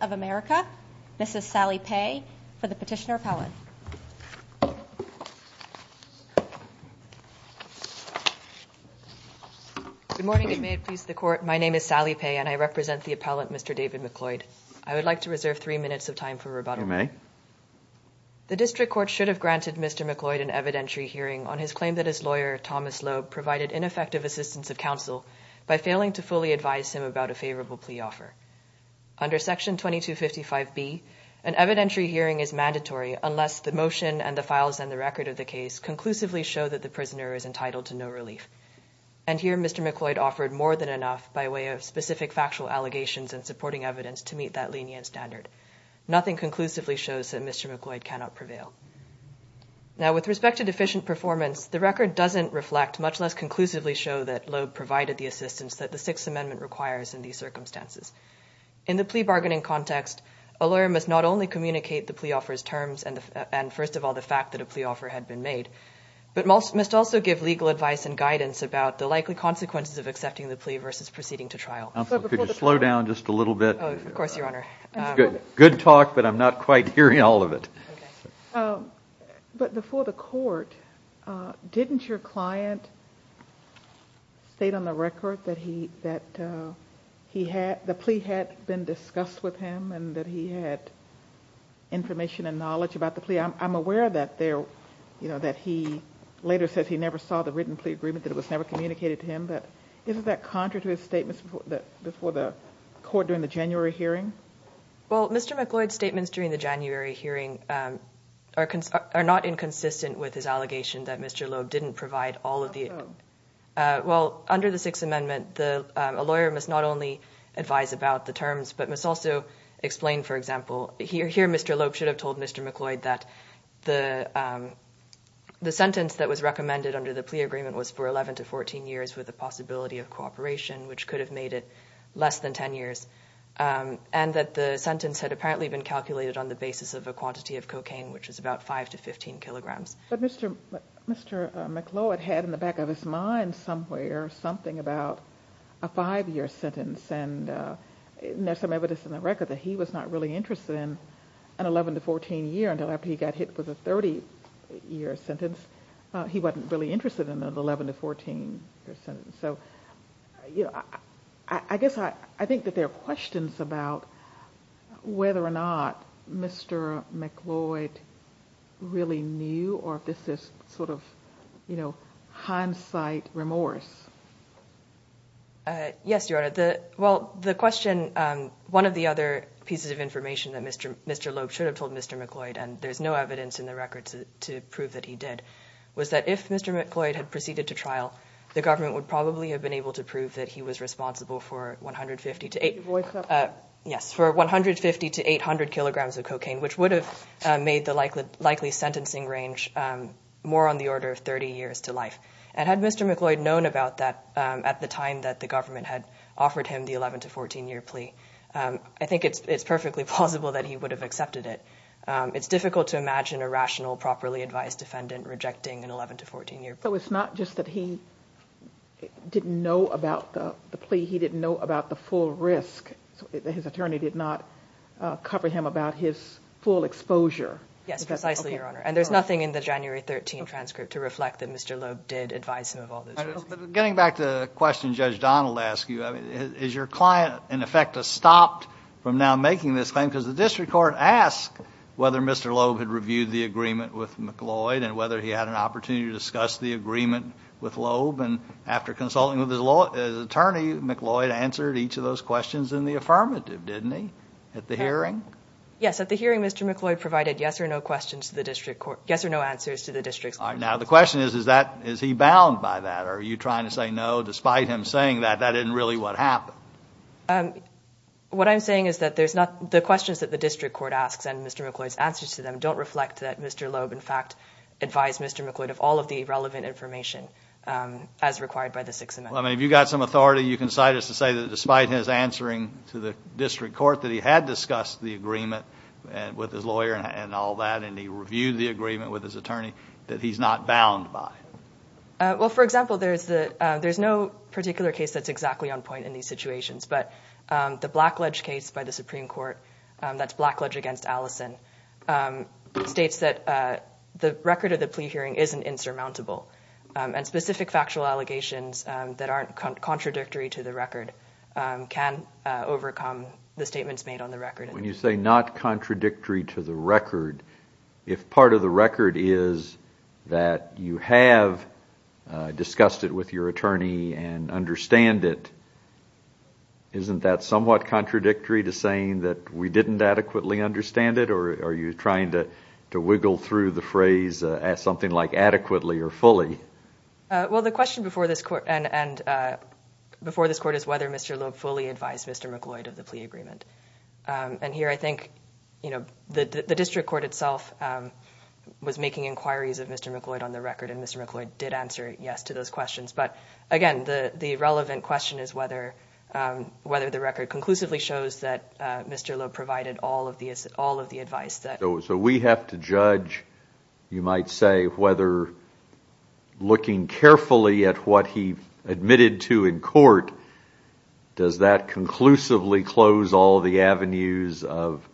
of America, Ms. Sally Paye for the Petitioner Appellant. Good morning and may it please the Court, my name is Sally Paye and I represent the Appellant, Mr. David MacLloyd. I would like to reserve three minutes of time for rebuttal. The District Court should have granted Mr. MacLloyd an evidentiary hearing on his claim that his lawyer, Thomas Loeb, provided ineffective assistance of counsel by failing to fully advise him about a favorable plea offer. Under Section 2255B, an evidentiary hearing is mandatory unless the motion and the files and the record of the case conclusively show that the prisoner is entitled to no relief. And here Mr. MacLloyd offered more than enough by way of specific factual allegations and supporting evidence to meet that lenient standard. Nothing conclusively shows that Mr. MacLloyd cannot prevail. Now with respect to deficient performance, the record doesn't reflect, much less conclusively show that Loeb provided the assistance that the Sixth Amendment requires in these circumstances. In the plea bargaining context, a lawyer must not only communicate the plea offer's terms and first of all the fact that a plea offer had been made, but must also give legal advice and guidance about the likely consequences of accepting the plea versus proceeding to trial. Could you slow down just a little bit? Of course, Your Honor. That's good. Good talk, but I'm not quite hearing all of it. But before the court, didn't your client state on the record that the plea had been discussed with him and that he had information and knowledge about the plea? I'm aware that he later says he never saw the written plea agreement, that it was never communicated to him, but isn't that contrary to his statements before the court during the January hearing? Well, Mr. MacLloyd's statements during the January hearing are not inconsistent with his allegation that Mr. Loeb didn't provide all of the... How so? Well, under the Sixth Amendment, a lawyer must not only advise about the terms, but must also explain, for example, here Mr. Loeb should have told Mr. MacLloyd that the sentence that was recommended under the plea agreement was for 11 to 14 years with the possibility of cooperation, which could have made it less than 10 years, and that the sentence had apparently been calculated on the basis of a quantity of cocaine, which was about 5 to 15 kilograms. But Mr. MacLloyd had in the back of his mind somewhere something about a five-year sentence, and there's some evidence in the record that he was not really interested in an 11 to 14 year until after he got hit with a 30-year sentence. He wasn't really interested in an 11 to 14 year sentence. I guess I think that there are questions about whether or not Mr. MacLloyd really knew, or if this is sort of hindsight remorse. Yes, Your Honor, well, the question... One of the other pieces of information that Mr. Loeb should have told Mr. MacLloyd, and there's no evidence in the record to prove that he did, was that if Mr. MacLloyd had proceeded to trial, the government would probably have been able to prove that he was responsible for 150 to 800 kilograms of cocaine, which would have made the likely sentencing range more on the order of 30 years to life. And had Mr. MacLloyd known about that at the time that the government had offered him the 11 to 14 year plea, I think it's perfectly plausible that he would have accepted it. It's difficult to imagine a rational, properly advised defendant rejecting an 11 to 14 year plea. So it's not just that he didn't know about the plea, he didn't know about the full risk. His attorney did not cover him about his full exposure. Yes, precisely, Your Honor. And there's nothing in the January 13 transcript to reflect that Mr. Loeb did advise him of all those risks. Getting back to the question Judge Donald asked you, is your client in effect stopped from now making this claim? Because the district court asked whether Mr. Loeb had reviewed the agreement with MacLloyd and whether he had an opportunity to discuss the agreement with Loeb. And after consulting with his attorney, MacLloyd answered each of those questions in the affirmative, didn't he? At the hearing? Yes. At the hearing, Mr. MacLloyd provided yes or no questions to the district court, yes or no answers to the district court. Now the question is, is he bound by that? Are you trying to say, no, despite him saying that, that isn't really what happened? What I'm saying is that the questions that the district court asks and Mr. MacLloyd's answers to them don't reflect that Mr. Loeb, in fact, advised Mr. MacLloyd of all of the relevant information as required by the Sixth Amendment. Well, I mean, if you've got some authority, you can cite us to say that despite his answering to the district court that he had discussed the agreement with his lawyer and all that and he reviewed the agreement with his attorney, that he's not bound by it. Well, for example, there's no particular case that's exactly on point in these situations, but the Blackledge case by the Supreme Court, that's Blackledge against Allison, states that the record of the plea hearing isn't insurmountable and specific factual allegations that aren't contradictory to the record can overcome the statements made on the record. When you say not contradictory to the record, if part of the record is that you have discussed it with your attorney and understand it, isn't that somewhat contradictory to saying that we didn't adequately understand it or are you trying to wiggle through the phrase as something like adequately or fully? Well, the question before this court is whether Mr. Loeb fully advised Mr. MacLloyd of the agreement. Here, I think the district court itself was making inquiries of Mr. MacLloyd on the record and Mr. MacLloyd did answer yes to those questions, but again, the relevant question is whether the record conclusively shows that Mr. Loeb provided all of the advice. We have to judge, you might say, whether looking carefully at what he admitted to in court, does that conclusively close all the avenues of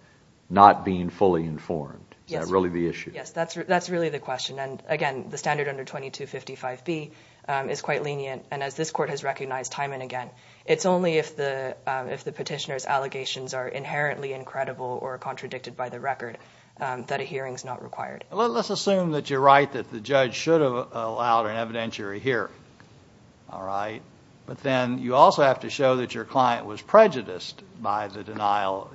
not being fully informed? Is that really the issue? Yes, that's really the question and again, the standard under 2255B is quite lenient and as this court has recognized time and again, it's only if the petitioner's allegations are inherently incredible or contradicted by the record that a hearing is not required. Let's assume that you're right, that the judge should have allowed an evidentiary hearing, all right, but then you also have to show that your client was prejudiced by the denial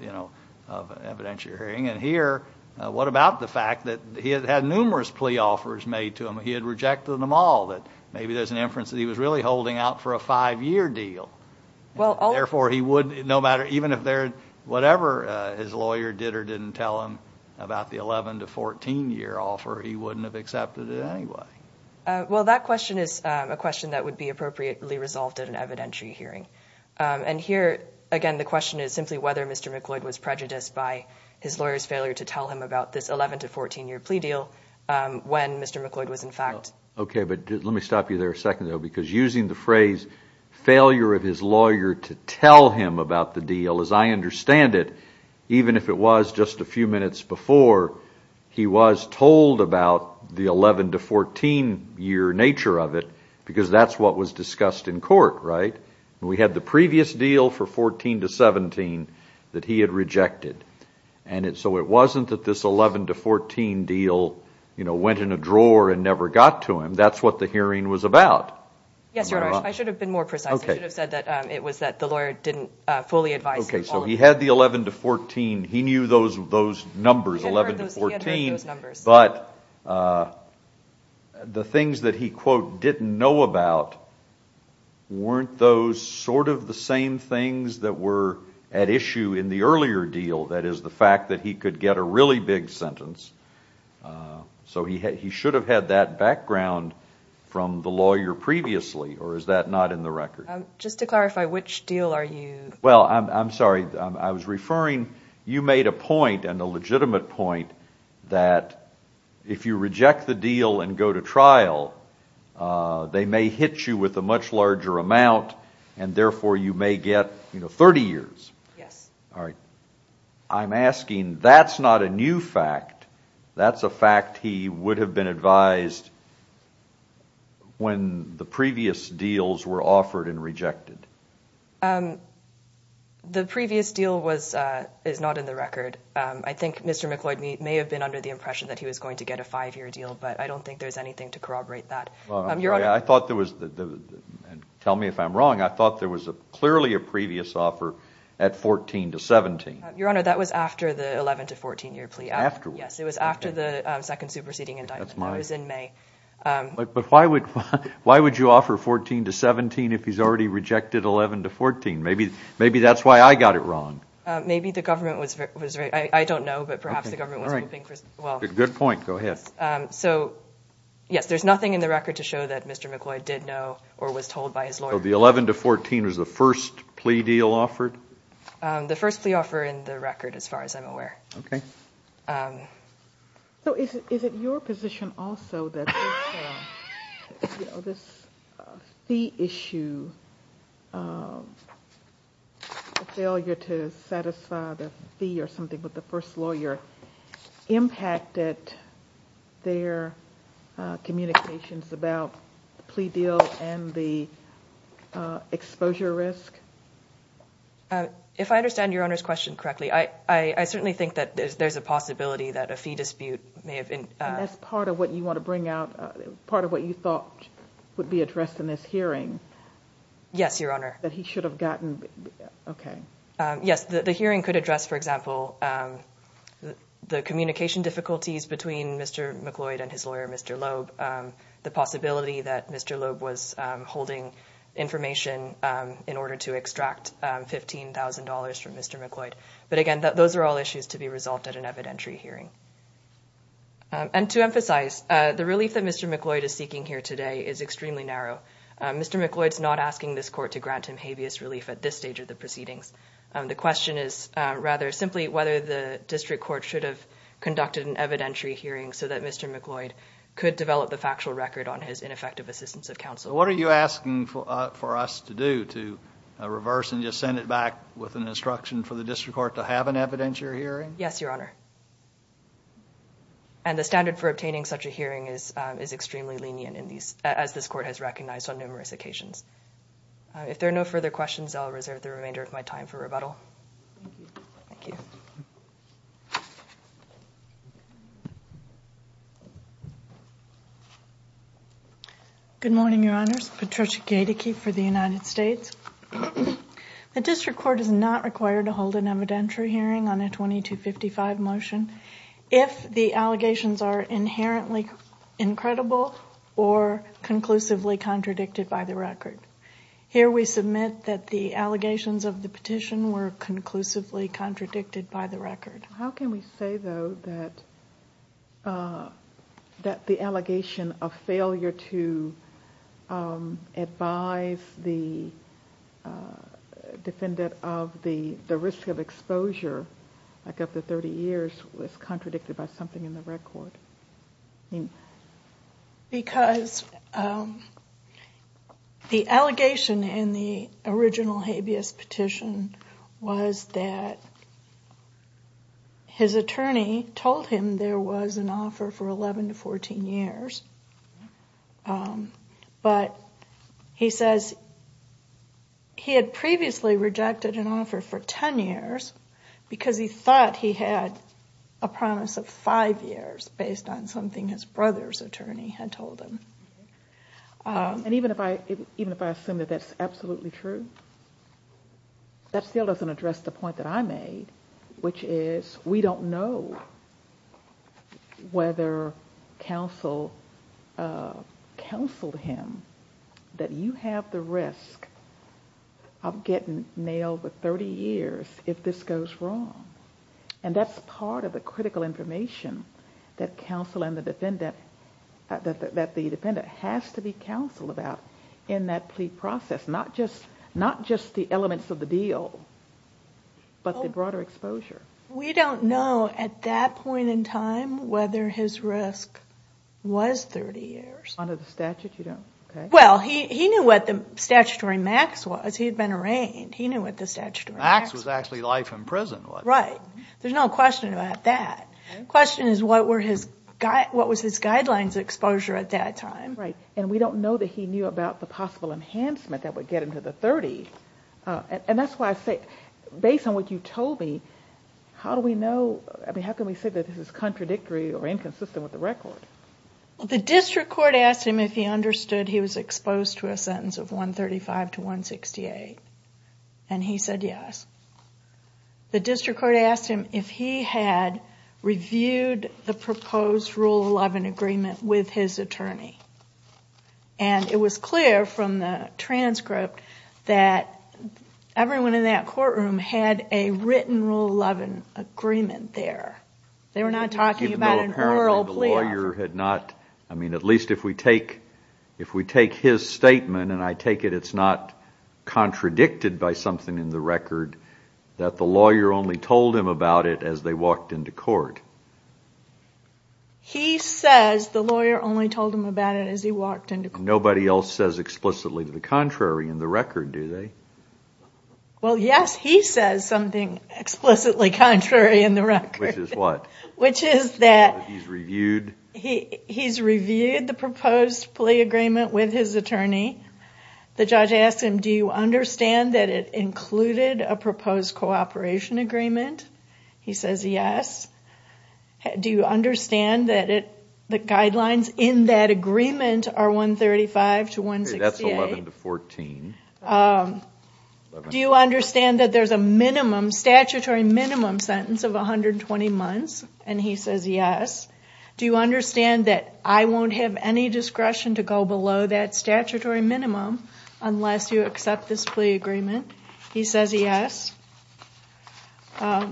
of evidentiary hearing and here, what about the fact that he had had numerous plea offers made to him, he had rejected them all, that maybe there's an inference that he was really holding out for a five-year deal, therefore he would, no matter, even if whatever his lawyer did or didn't tell him about the 11 to 14-year offer, he wouldn't have accepted it anyway. Well, that question is a question that would be appropriately resolved at an evidentiary hearing and here, again, the question is simply whether Mr. McLeod was prejudiced by his lawyer's failure to tell him about this 11 to 14-year plea deal when Mr. McLeod was, in fact... Okay, but let me stop you there a second though because using the phrase failure of his lawyer to tell him about the deal, as I understand it, even if it was just a few minutes before, he was told about the 11 to 14-year nature of it because that's what was discussed in court, right? We had the previous deal for 14 to 17 that he had rejected and so it wasn't that this 11 to 14 deal, you know, went in a drawer and never got to him, that's what the hearing was about. Yes, Your Honor. I should have been more precise. Okay. I should have said that it was that the lawyer didn't fully advise him. Okay, so he had the 11 to 14, he knew those numbers, 11 to 14, but the things that he quote didn't know about weren't those sort of the same things that were at issue in the earlier deal, that is the fact that he could get a really big sentence, so he should have had that background from the lawyer previously or is that not in the record? Just to clarify, which deal are you... Well, I'm sorry, I was referring, you made a point and a legitimate point that if you reject the deal and go to trial, they may hit you with a much larger amount and therefore you may get, you know, 30 years. Yes. All right. I'm asking, that's not a new fact, that's a fact he would have been advised when the previous deals were offered and rejected. The previous deal was, is not in the record. I think Mr. McLeod may have been under the impression that he was going to get a five-year deal, but I don't think there's anything to corroborate that. Well, I'm sorry, I thought there was, and tell me if I'm wrong, I thought there was clearly a previous offer at 14 to 17. Your Honor, that was after the 11 to 14 year plea. Afterward? Yes, it was after the second superseding indictment, that was in May. But why would you offer 14 to 17 if he's already rejected 11 to 14? Maybe that's why I got it wrong. Maybe the government was, I don't know, but perhaps the government was hoping for, well. Good point. Go ahead. So, yes, there's nothing in the record to show that Mr. McLeod did know or was told by his lawyer. So the 11 to 14 was the first plea deal offered? The first plea offer in the record, as far as I'm aware. Okay. So is it your position also that this fee issue, the failure to satisfy the fee or something with the first lawyer, impacted their communications about the plea deal and the exposure risk? If I understand Your Honor's question correctly, I certainly think that there's a possibility that a fee dispute may have been. And that's part of what you want to bring out, part of what you thought would be addressed in this hearing. Yes, Your Honor. That he should have gotten, okay. Yes, the hearing could address, for example, the communication difficulties between Mr. McLeod and his lawyer, Mr. Loeb, the possibility that Mr. Loeb was holding information in order to extract $15,000 from Mr. McLeod. But again, those are all issues to be resolved at an evidentiary hearing. And to emphasize, the relief that Mr. McLeod is seeking here today is extremely narrow. Mr. McLeod's not asking this court to grant him habeas relief at this stage of the proceedings. The question is, rather, simply whether the district court should have conducted an evidentiary hearing so that Mr. McLeod could develop the factual record on his ineffective assistance of counsel. So what are you asking for us to do, to reverse and just send it back with an instruction for the district court to have an evidentiary hearing? Yes, Your Honor. And the standard for obtaining such a hearing is extremely lenient, as this court has recognized on numerous occasions. If there are no further questions, I'll reserve the remainder of my time for rebuttal. Thank you. Good morning, Your Honors. Patricia Gaedeke for the United States. The district court is not required to hold an evidentiary hearing on a 2255 motion if the allegations are inherently incredible or conclusively contradicted by the record. Here we submit that the allegations of the petition were conclusively contradicted by the record. How can we say, though, that the allegation of failure to advise the defendant of the risk of exposure, like up to 30 years, was contradicted by something in the record? Because the allegation in the original habeas petition was that his attorney told him there was an offer for 11 to 14 years. But he says he had previously rejected an offer for 10 years because he thought he had a promise of five years based on something his brother's attorney had told him. And even if I assume that that's absolutely true, that still doesn't address the point that I made, which is we don't know whether counsel counseled him that you have the risk of getting nailed with 30 years if this goes wrong. And that's part of the critical information that the defendant has to be counseled about in that plea process, not just the elements of the deal, but the broader exposure. We don't know at that point in time whether his risk was 30 years. Under the statute, you don't? Well, he knew what the statutory max was. He had been arraigned. He knew what the statutory max was. The max was actually life in prison, wasn't it? Right. There's no question about that. The question is, what was his guidelines exposure at that time? Right. And we don't know that he knew about the possible enhancement that would get him to the 30. And that's why I say, based on what you told me, how can we say that this is contradictory or inconsistent with the record? The district court asked him if he understood he was exposed to a sentence of 135 to 168. And he said yes. The district court asked him if he had reviewed the proposed Rule 11 agreement with his attorney. And it was clear from the transcript that everyone in that courtroom had a written Rule 11 agreement there. They were not talking about an oral plea. Even though apparently the lawyer had not... I mean, at least if we take his statement, and I take it it's not contradicted by something in the record, that the lawyer only told him about it as they walked into court. He says the lawyer only told him about it as he walked into court. Nobody else says explicitly the contrary in the record, do they? Well, yes, he says something explicitly contrary in the record. Which is what? Which is that... He's reviewed... The judge asked him, do you understand that it included a proposed cooperation agreement? He says yes. Do you understand that the guidelines in that agreement are 135 to 168? That's 11 to 14. Do you understand that there's a minimum, statutory minimum sentence of 120 months? And he says yes. Do you understand that I won't have any discretion to go below that statutory minimum unless you accept this plea agreement? He says yes. Where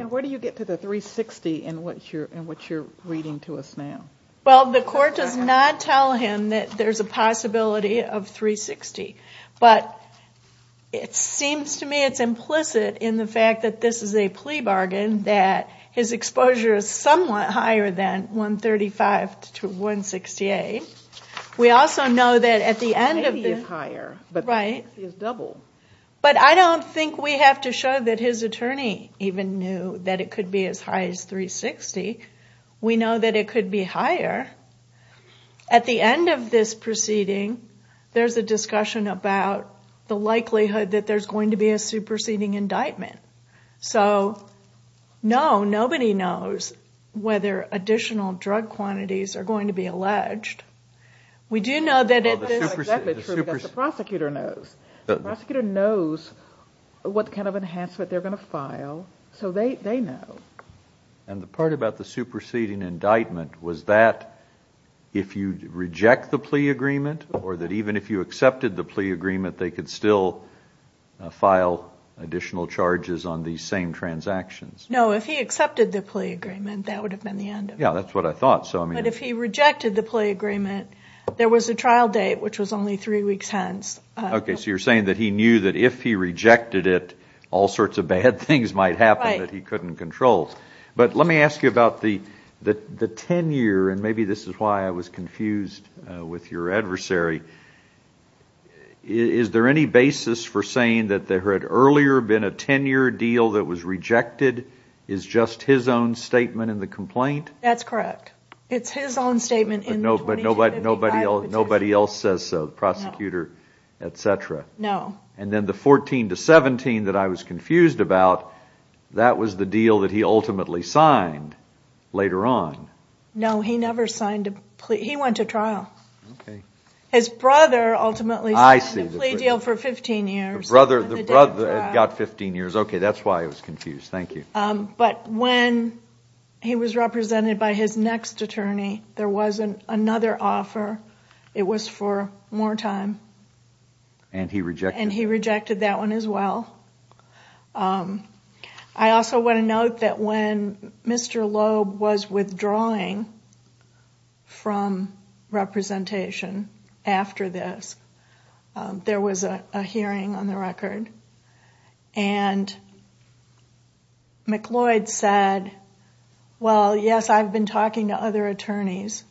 do you get to the 360 in what you're reading to us now? Well, the court does not tell him that there's a possibility of 360. But it seems to me it's implicit in the fact that this is a plea bargain that his exposure is somewhat higher than 135 to 168. We also know that at the end of the... Maybe it's higher. Right. But 360 is double. But I don't think we have to show that his attorney even knew that it could be as high as 360. We know that it could be higher. At the end of this proceeding, there's a discussion about the likelihood that there's going to be a superseding indictment. So no, nobody knows whether additional drug quantities are going to be alleged. We do know that it is... Well, the superseding... That's not exactly true because the prosecutor knows. The prosecutor knows what kind of enhancement they're going to file, so they know. And the part about the superseding indictment was that if you reject the plea agreement or that even if you accepted the plea agreement, they could still file additional charges on these same transactions. No, if he accepted the plea agreement, that would have been the end of it. Yeah, that's what I thought. But if he rejected the plea agreement, there was a trial date, which was only three weeks hence. Okay, so you're saying that he knew that if he rejected it, all sorts of bad things might happen that he couldn't control. But let me ask you about the tenure, and maybe this is why I was confused with your adversary. Is there any basis for saying that there had earlier been a tenure deal that was rejected? Is just his own statement in the complaint? That's correct. It's his own statement in the 2055 petition. Nobody else says so, the prosecutor, et cetera. No. And then the 14 to 17 that I was confused about, that was the deal that he ultimately signed later on. No, he never signed a plea. He went to trial. Okay. His brother ultimately signed the plea deal for 15 years. The brother got 15 years, okay, that's why I was confused, thank you. But when he was represented by his next attorney, there was another offer. It was for more time. And he rejected it. And he rejected that one as well. I also want to note that when Mr. Loeb was withdrawing from representation after this, there was a hearing on the record. And McLeod said, well, yes, I've been talking to other attorneys.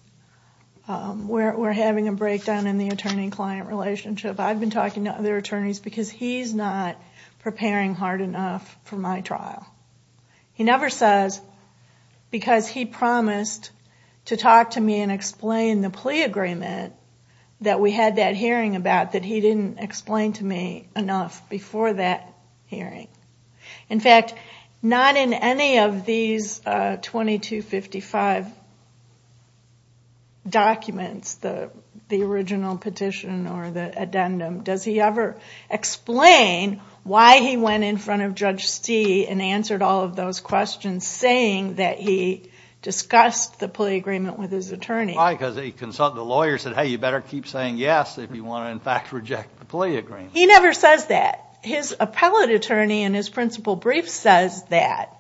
We're having a breakdown in the attorney-client relationship. I've been talking to other attorneys because he's not preparing hard enough for my trial. He never says because he promised to talk to me and explain the plea agreement that we had that hearing about that he didn't explain to me enough before that hearing. In fact, not in any of these 2255 documents, the original petition or the addendum, does he ever explain why he went in front of Judge Stee and answered all of those questions saying that he discussed the plea agreement with his attorney. Why? Because the lawyer said, hey, you better keep saying yes if you want to in fact reject the plea agreement. He never says that. His appellate attorney in his principal brief says that,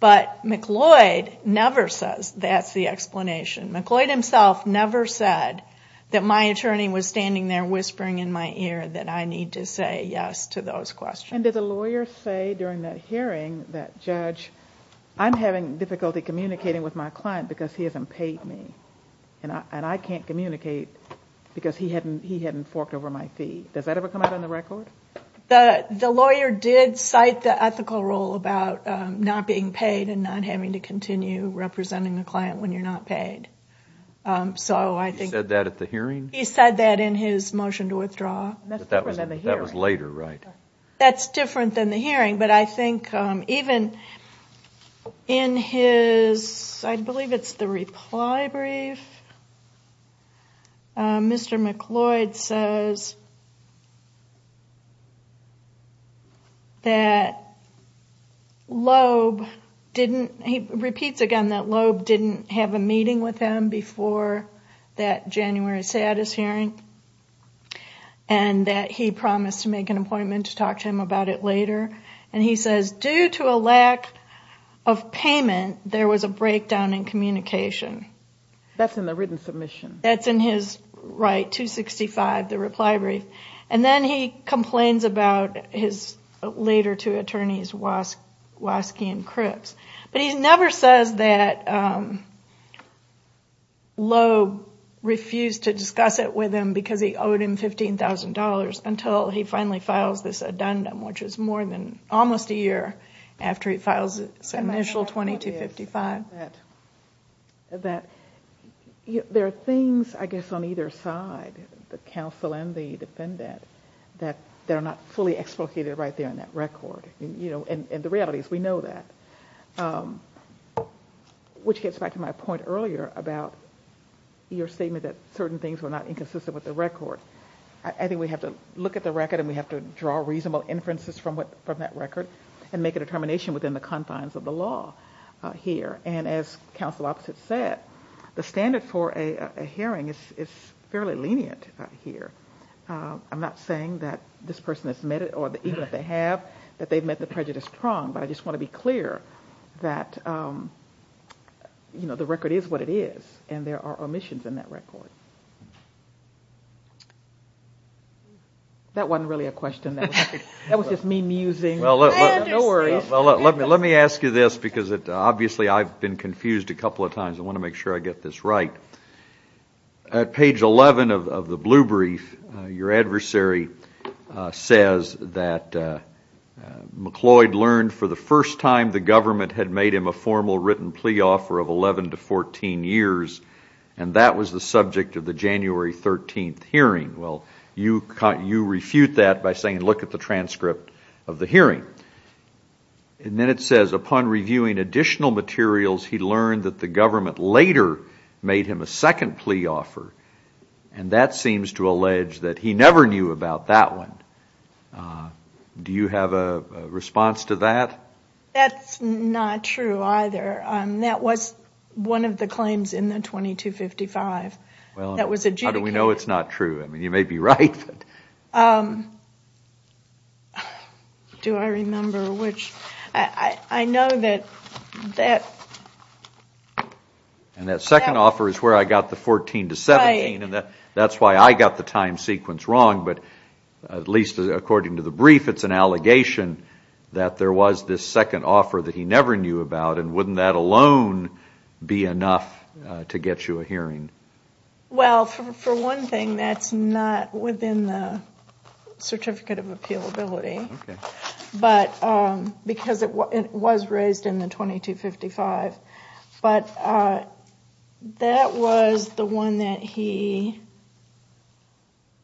but McLeod never says that's the explanation. McLeod himself never said that my attorney was standing there whispering in my ear that I need to say yes to those questions. And did the lawyer say during that hearing that, Judge, I'm having difficulty communicating with my client because he hasn't paid me and I can't communicate because he hadn't forked over my fee? Does that ever come out on the record? The lawyer did cite the ethical rule about not being paid and not having to continue representing the client when you're not paid. So I think... He said that at the hearing? He said that in his motion to withdraw. That was later, right? That's different than the hearing, but I think even in his, I believe it's the reply brief, Mr. McLeod says that Loeb didn't, he repeats again that Loeb didn't have a meeting with him before that January status hearing and that he promised to make an appointment to talk to him about it later. And he says, due to a lack of payment, there was a breakdown in communication. That's in the written submission? That's in his right, 265, the reply brief. And then he complains about his later two attorneys, Waskey and Cripps. But he never says that Loeb refused to discuss it with him because he owed him $15,000 until he finally files this addendum, which is more than almost a year after he files his initial 2255. I find that there are things, I guess, on either side, the counsel and the defendant, that are not fully explicated right there in that record. And the reality is we know that, which gets back to my point earlier about your statement that certain things were not inconsistent with the record. I think we have to look at the record and we have to draw reasonable inferences from that record and make a determination within the confines of the law here. And as counsel Opps had said, the standard for a hearing is fairly lenient here. I'm not saying that this person has met it or even if they have, that they've met the prejudice prong, but I just want to be clear that the record is what it is and there are omissions in that record. That wasn't really a question. That was just me musing. I understand. No worries. Well, let me ask you this because obviously I've been confused a couple of times. I want to make sure I get this right. At page 11 of the blue brief, your adversary says that McCloyd learned for the first time the government had made him a formal written plea offer of 11 to 14 years and that was the subject of the January 13th hearing. Well, you refute that by saying look at the transcript of the hearing. And then it says upon reviewing additional materials, he learned that the government later made him a second plea offer and that seems to allege that he never knew about that one. Do you have a response to that? That's not true either. That was one of the claims in the 2255. That was adjudicated. Well, how do we know it's not true? I mean, you may be right. Do I remember which? I know that... And that second offer is where I got the 14 to 17. That's why I got the time sequence wrong, but at least according to the brief, it's an allegation that there was this second offer that he never knew about and wouldn't that alone be enough to get you a hearing? Well, for one thing, that's not within the Certificate of Appealability because it was raised in the 2255, but that was the one that he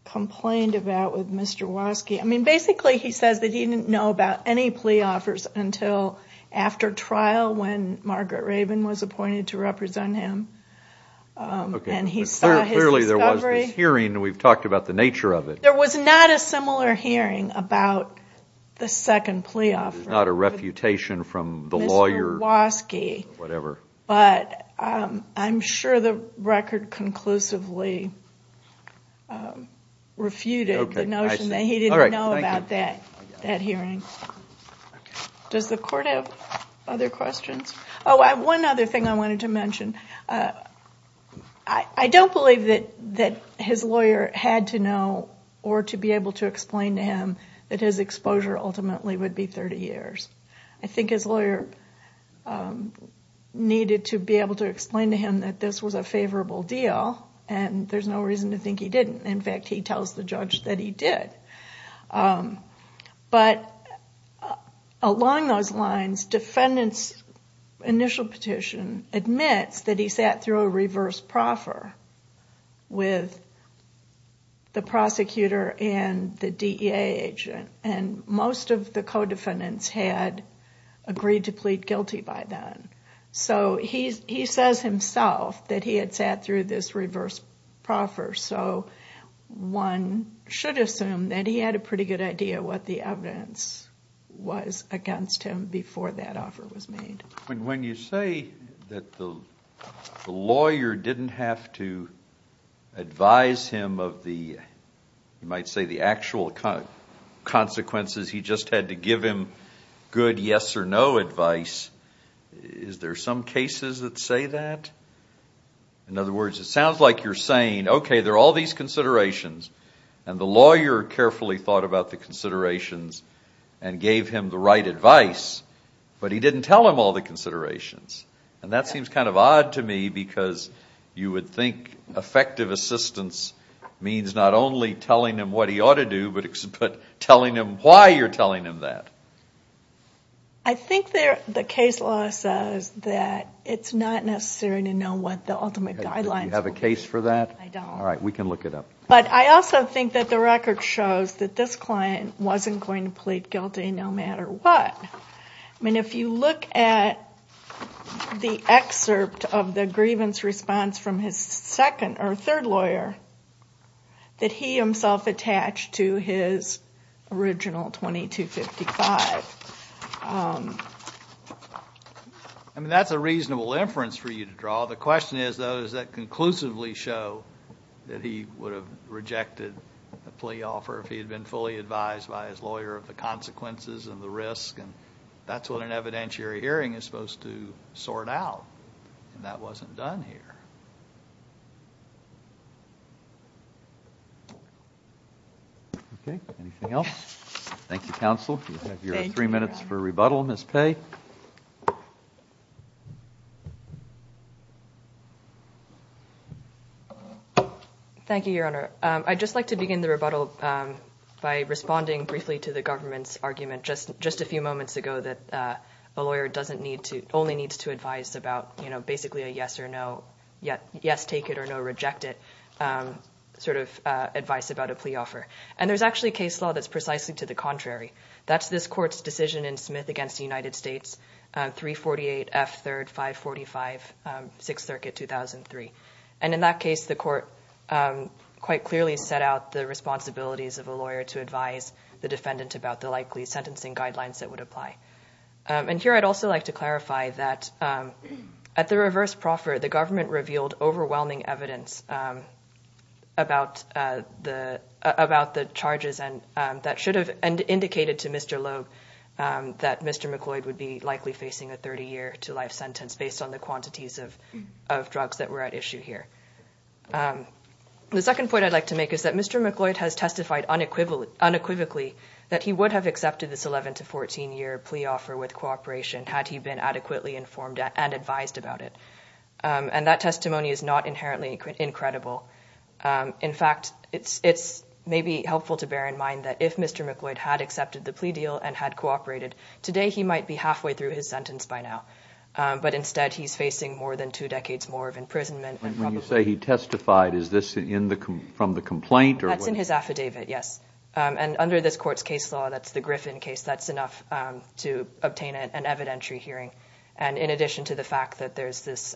complained about with Mr. Waskey. I mean, basically he says that he didn't know about any plea offers until after trial when he saw his discovery. Okay. But clearly there was this hearing. We've talked about the nature of it. There was not a similar hearing about the second plea offer. There's not a refutation from the lawyer. Mr. Waskey. Whatever. But I'm sure the record conclusively refuted the notion that he didn't know about that hearing. Okay. I see. All right. Thank you. Does the Court have other questions? One other thing I wanted to mention. I don't believe that his lawyer had to know or to be able to explain to him that his exposure ultimately would be 30 years. I think his lawyer needed to be able to explain to him that this was a favorable deal and there's no reason to think he didn't. In fact, he tells the judge that he did. But along those lines, defendant's initial petition admits that he sat through a reverse proffer with the prosecutor and the DEA agent. Most of the co-defendants had agreed to plead guilty by then. He says himself that he had sat through this reverse proffer. So one should assume that he had a pretty good idea what the evidence was against him before that offer was made. When you say that the lawyer didn't have to advise him of the, you might say, the actual consequences, he just had to give him good yes or no advice, is there some cases that say that? In other words, it sounds like you're saying, okay, there are all these considerations and the lawyer carefully thought about the considerations and gave him the right advice, but he didn't tell him all the considerations. And that seems kind of odd to me because you would think effective assistance means not only telling him what he ought to do, but telling him why you're telling him that. I think the case law says that it's not necessary to know what the ultimate guidelines would be. Do you have a case for that? I don't. All right, we can look it up. But I also think that the record shows that this client wasn't going to plead guilty no matter what. I mean, if you look at the excerpt of the grievance response from his second or third I mean, that's a reasonable inference for you to draw. The question is, though, does that conclusively show that he would have rejected a plea offer if he had been fully advised by his lawyer of the consequences and the risk? And that's what an evidentiary hearing is supposed to sort out, and that wasn't done here. Okay. Anything else? Thank you, counsel. You have your three minutes for rebuttal, Ms. Pei. Thank you, Your Honor. I'd just like to begin the rebuttal by responding briefly to the government's argument just a few moments ago that a lawyer only needs to advise about basically a yes-take-it-or-no-reject-it sort of advice about a plea offer. And there's actually a case law that's precisely to the contrary. That's this Court's decision in Smith v. United States, 348 F. 3rd 545, Sixth Circuit, 2003. And in that case, the Court quite clearly set out the responsibilities of a lawyer to advise the defendant about the likely sentencing guidelines that would apply. And here I'd also like to clarify that at the reverse proffer, the government revealed overwhelming evidence about the charges that should have indicated to Mr. Loeb that Mr. McLeod would be likely facing a 30-year-to-life sentence based on the quantities of drugs that were at issue here. The second point I'd like to make is that Mr. McLeod has testified unequivocally that he would have accepted this 11- to 14-year plea offer with cooperation had he been adequately informed and advised about it. And that testimony is not inherently incredible. In fact, it's maybe helpful to bear in mind that if Mr. McLeod had accepted the plea deal and had cooperated, today he might be halfway through his sentence by now. But instead, he's facing more than two decades more of imprisonment. When you say he testified, is this from the complaint or what? That's in his affidavit, yes. And under this Court's case law, that's the Griffin case, that's enough to obtain an evidentiary hearing. And in addition to the fact that there's this,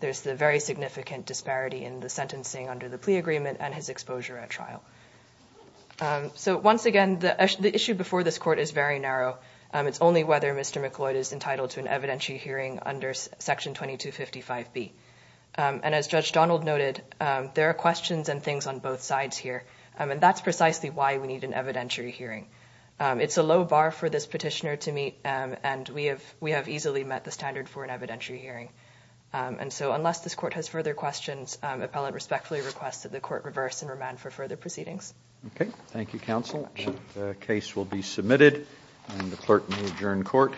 there's the very significant disparity in the sentencing under the plea agreement and his exposure at trial. So once again, the issue before this Court is very narrow. It's only whether Mr. McLeod is entitled to an evidentiary hearing under Section 2255B. And as Judge Donald noted, there are questions and things on both sides here, and that's precisely why we need an evidentiary hearing. It's a low bar for this petitioner to meet, and we have easily met the standard for an evidentiary hearing. And so unless this Court has further questions, appellant respectfully requests that the Court reverse and remand for further proceedings. Okay, thank you counsel. The case will be submitted, and the clerk may adjourn court.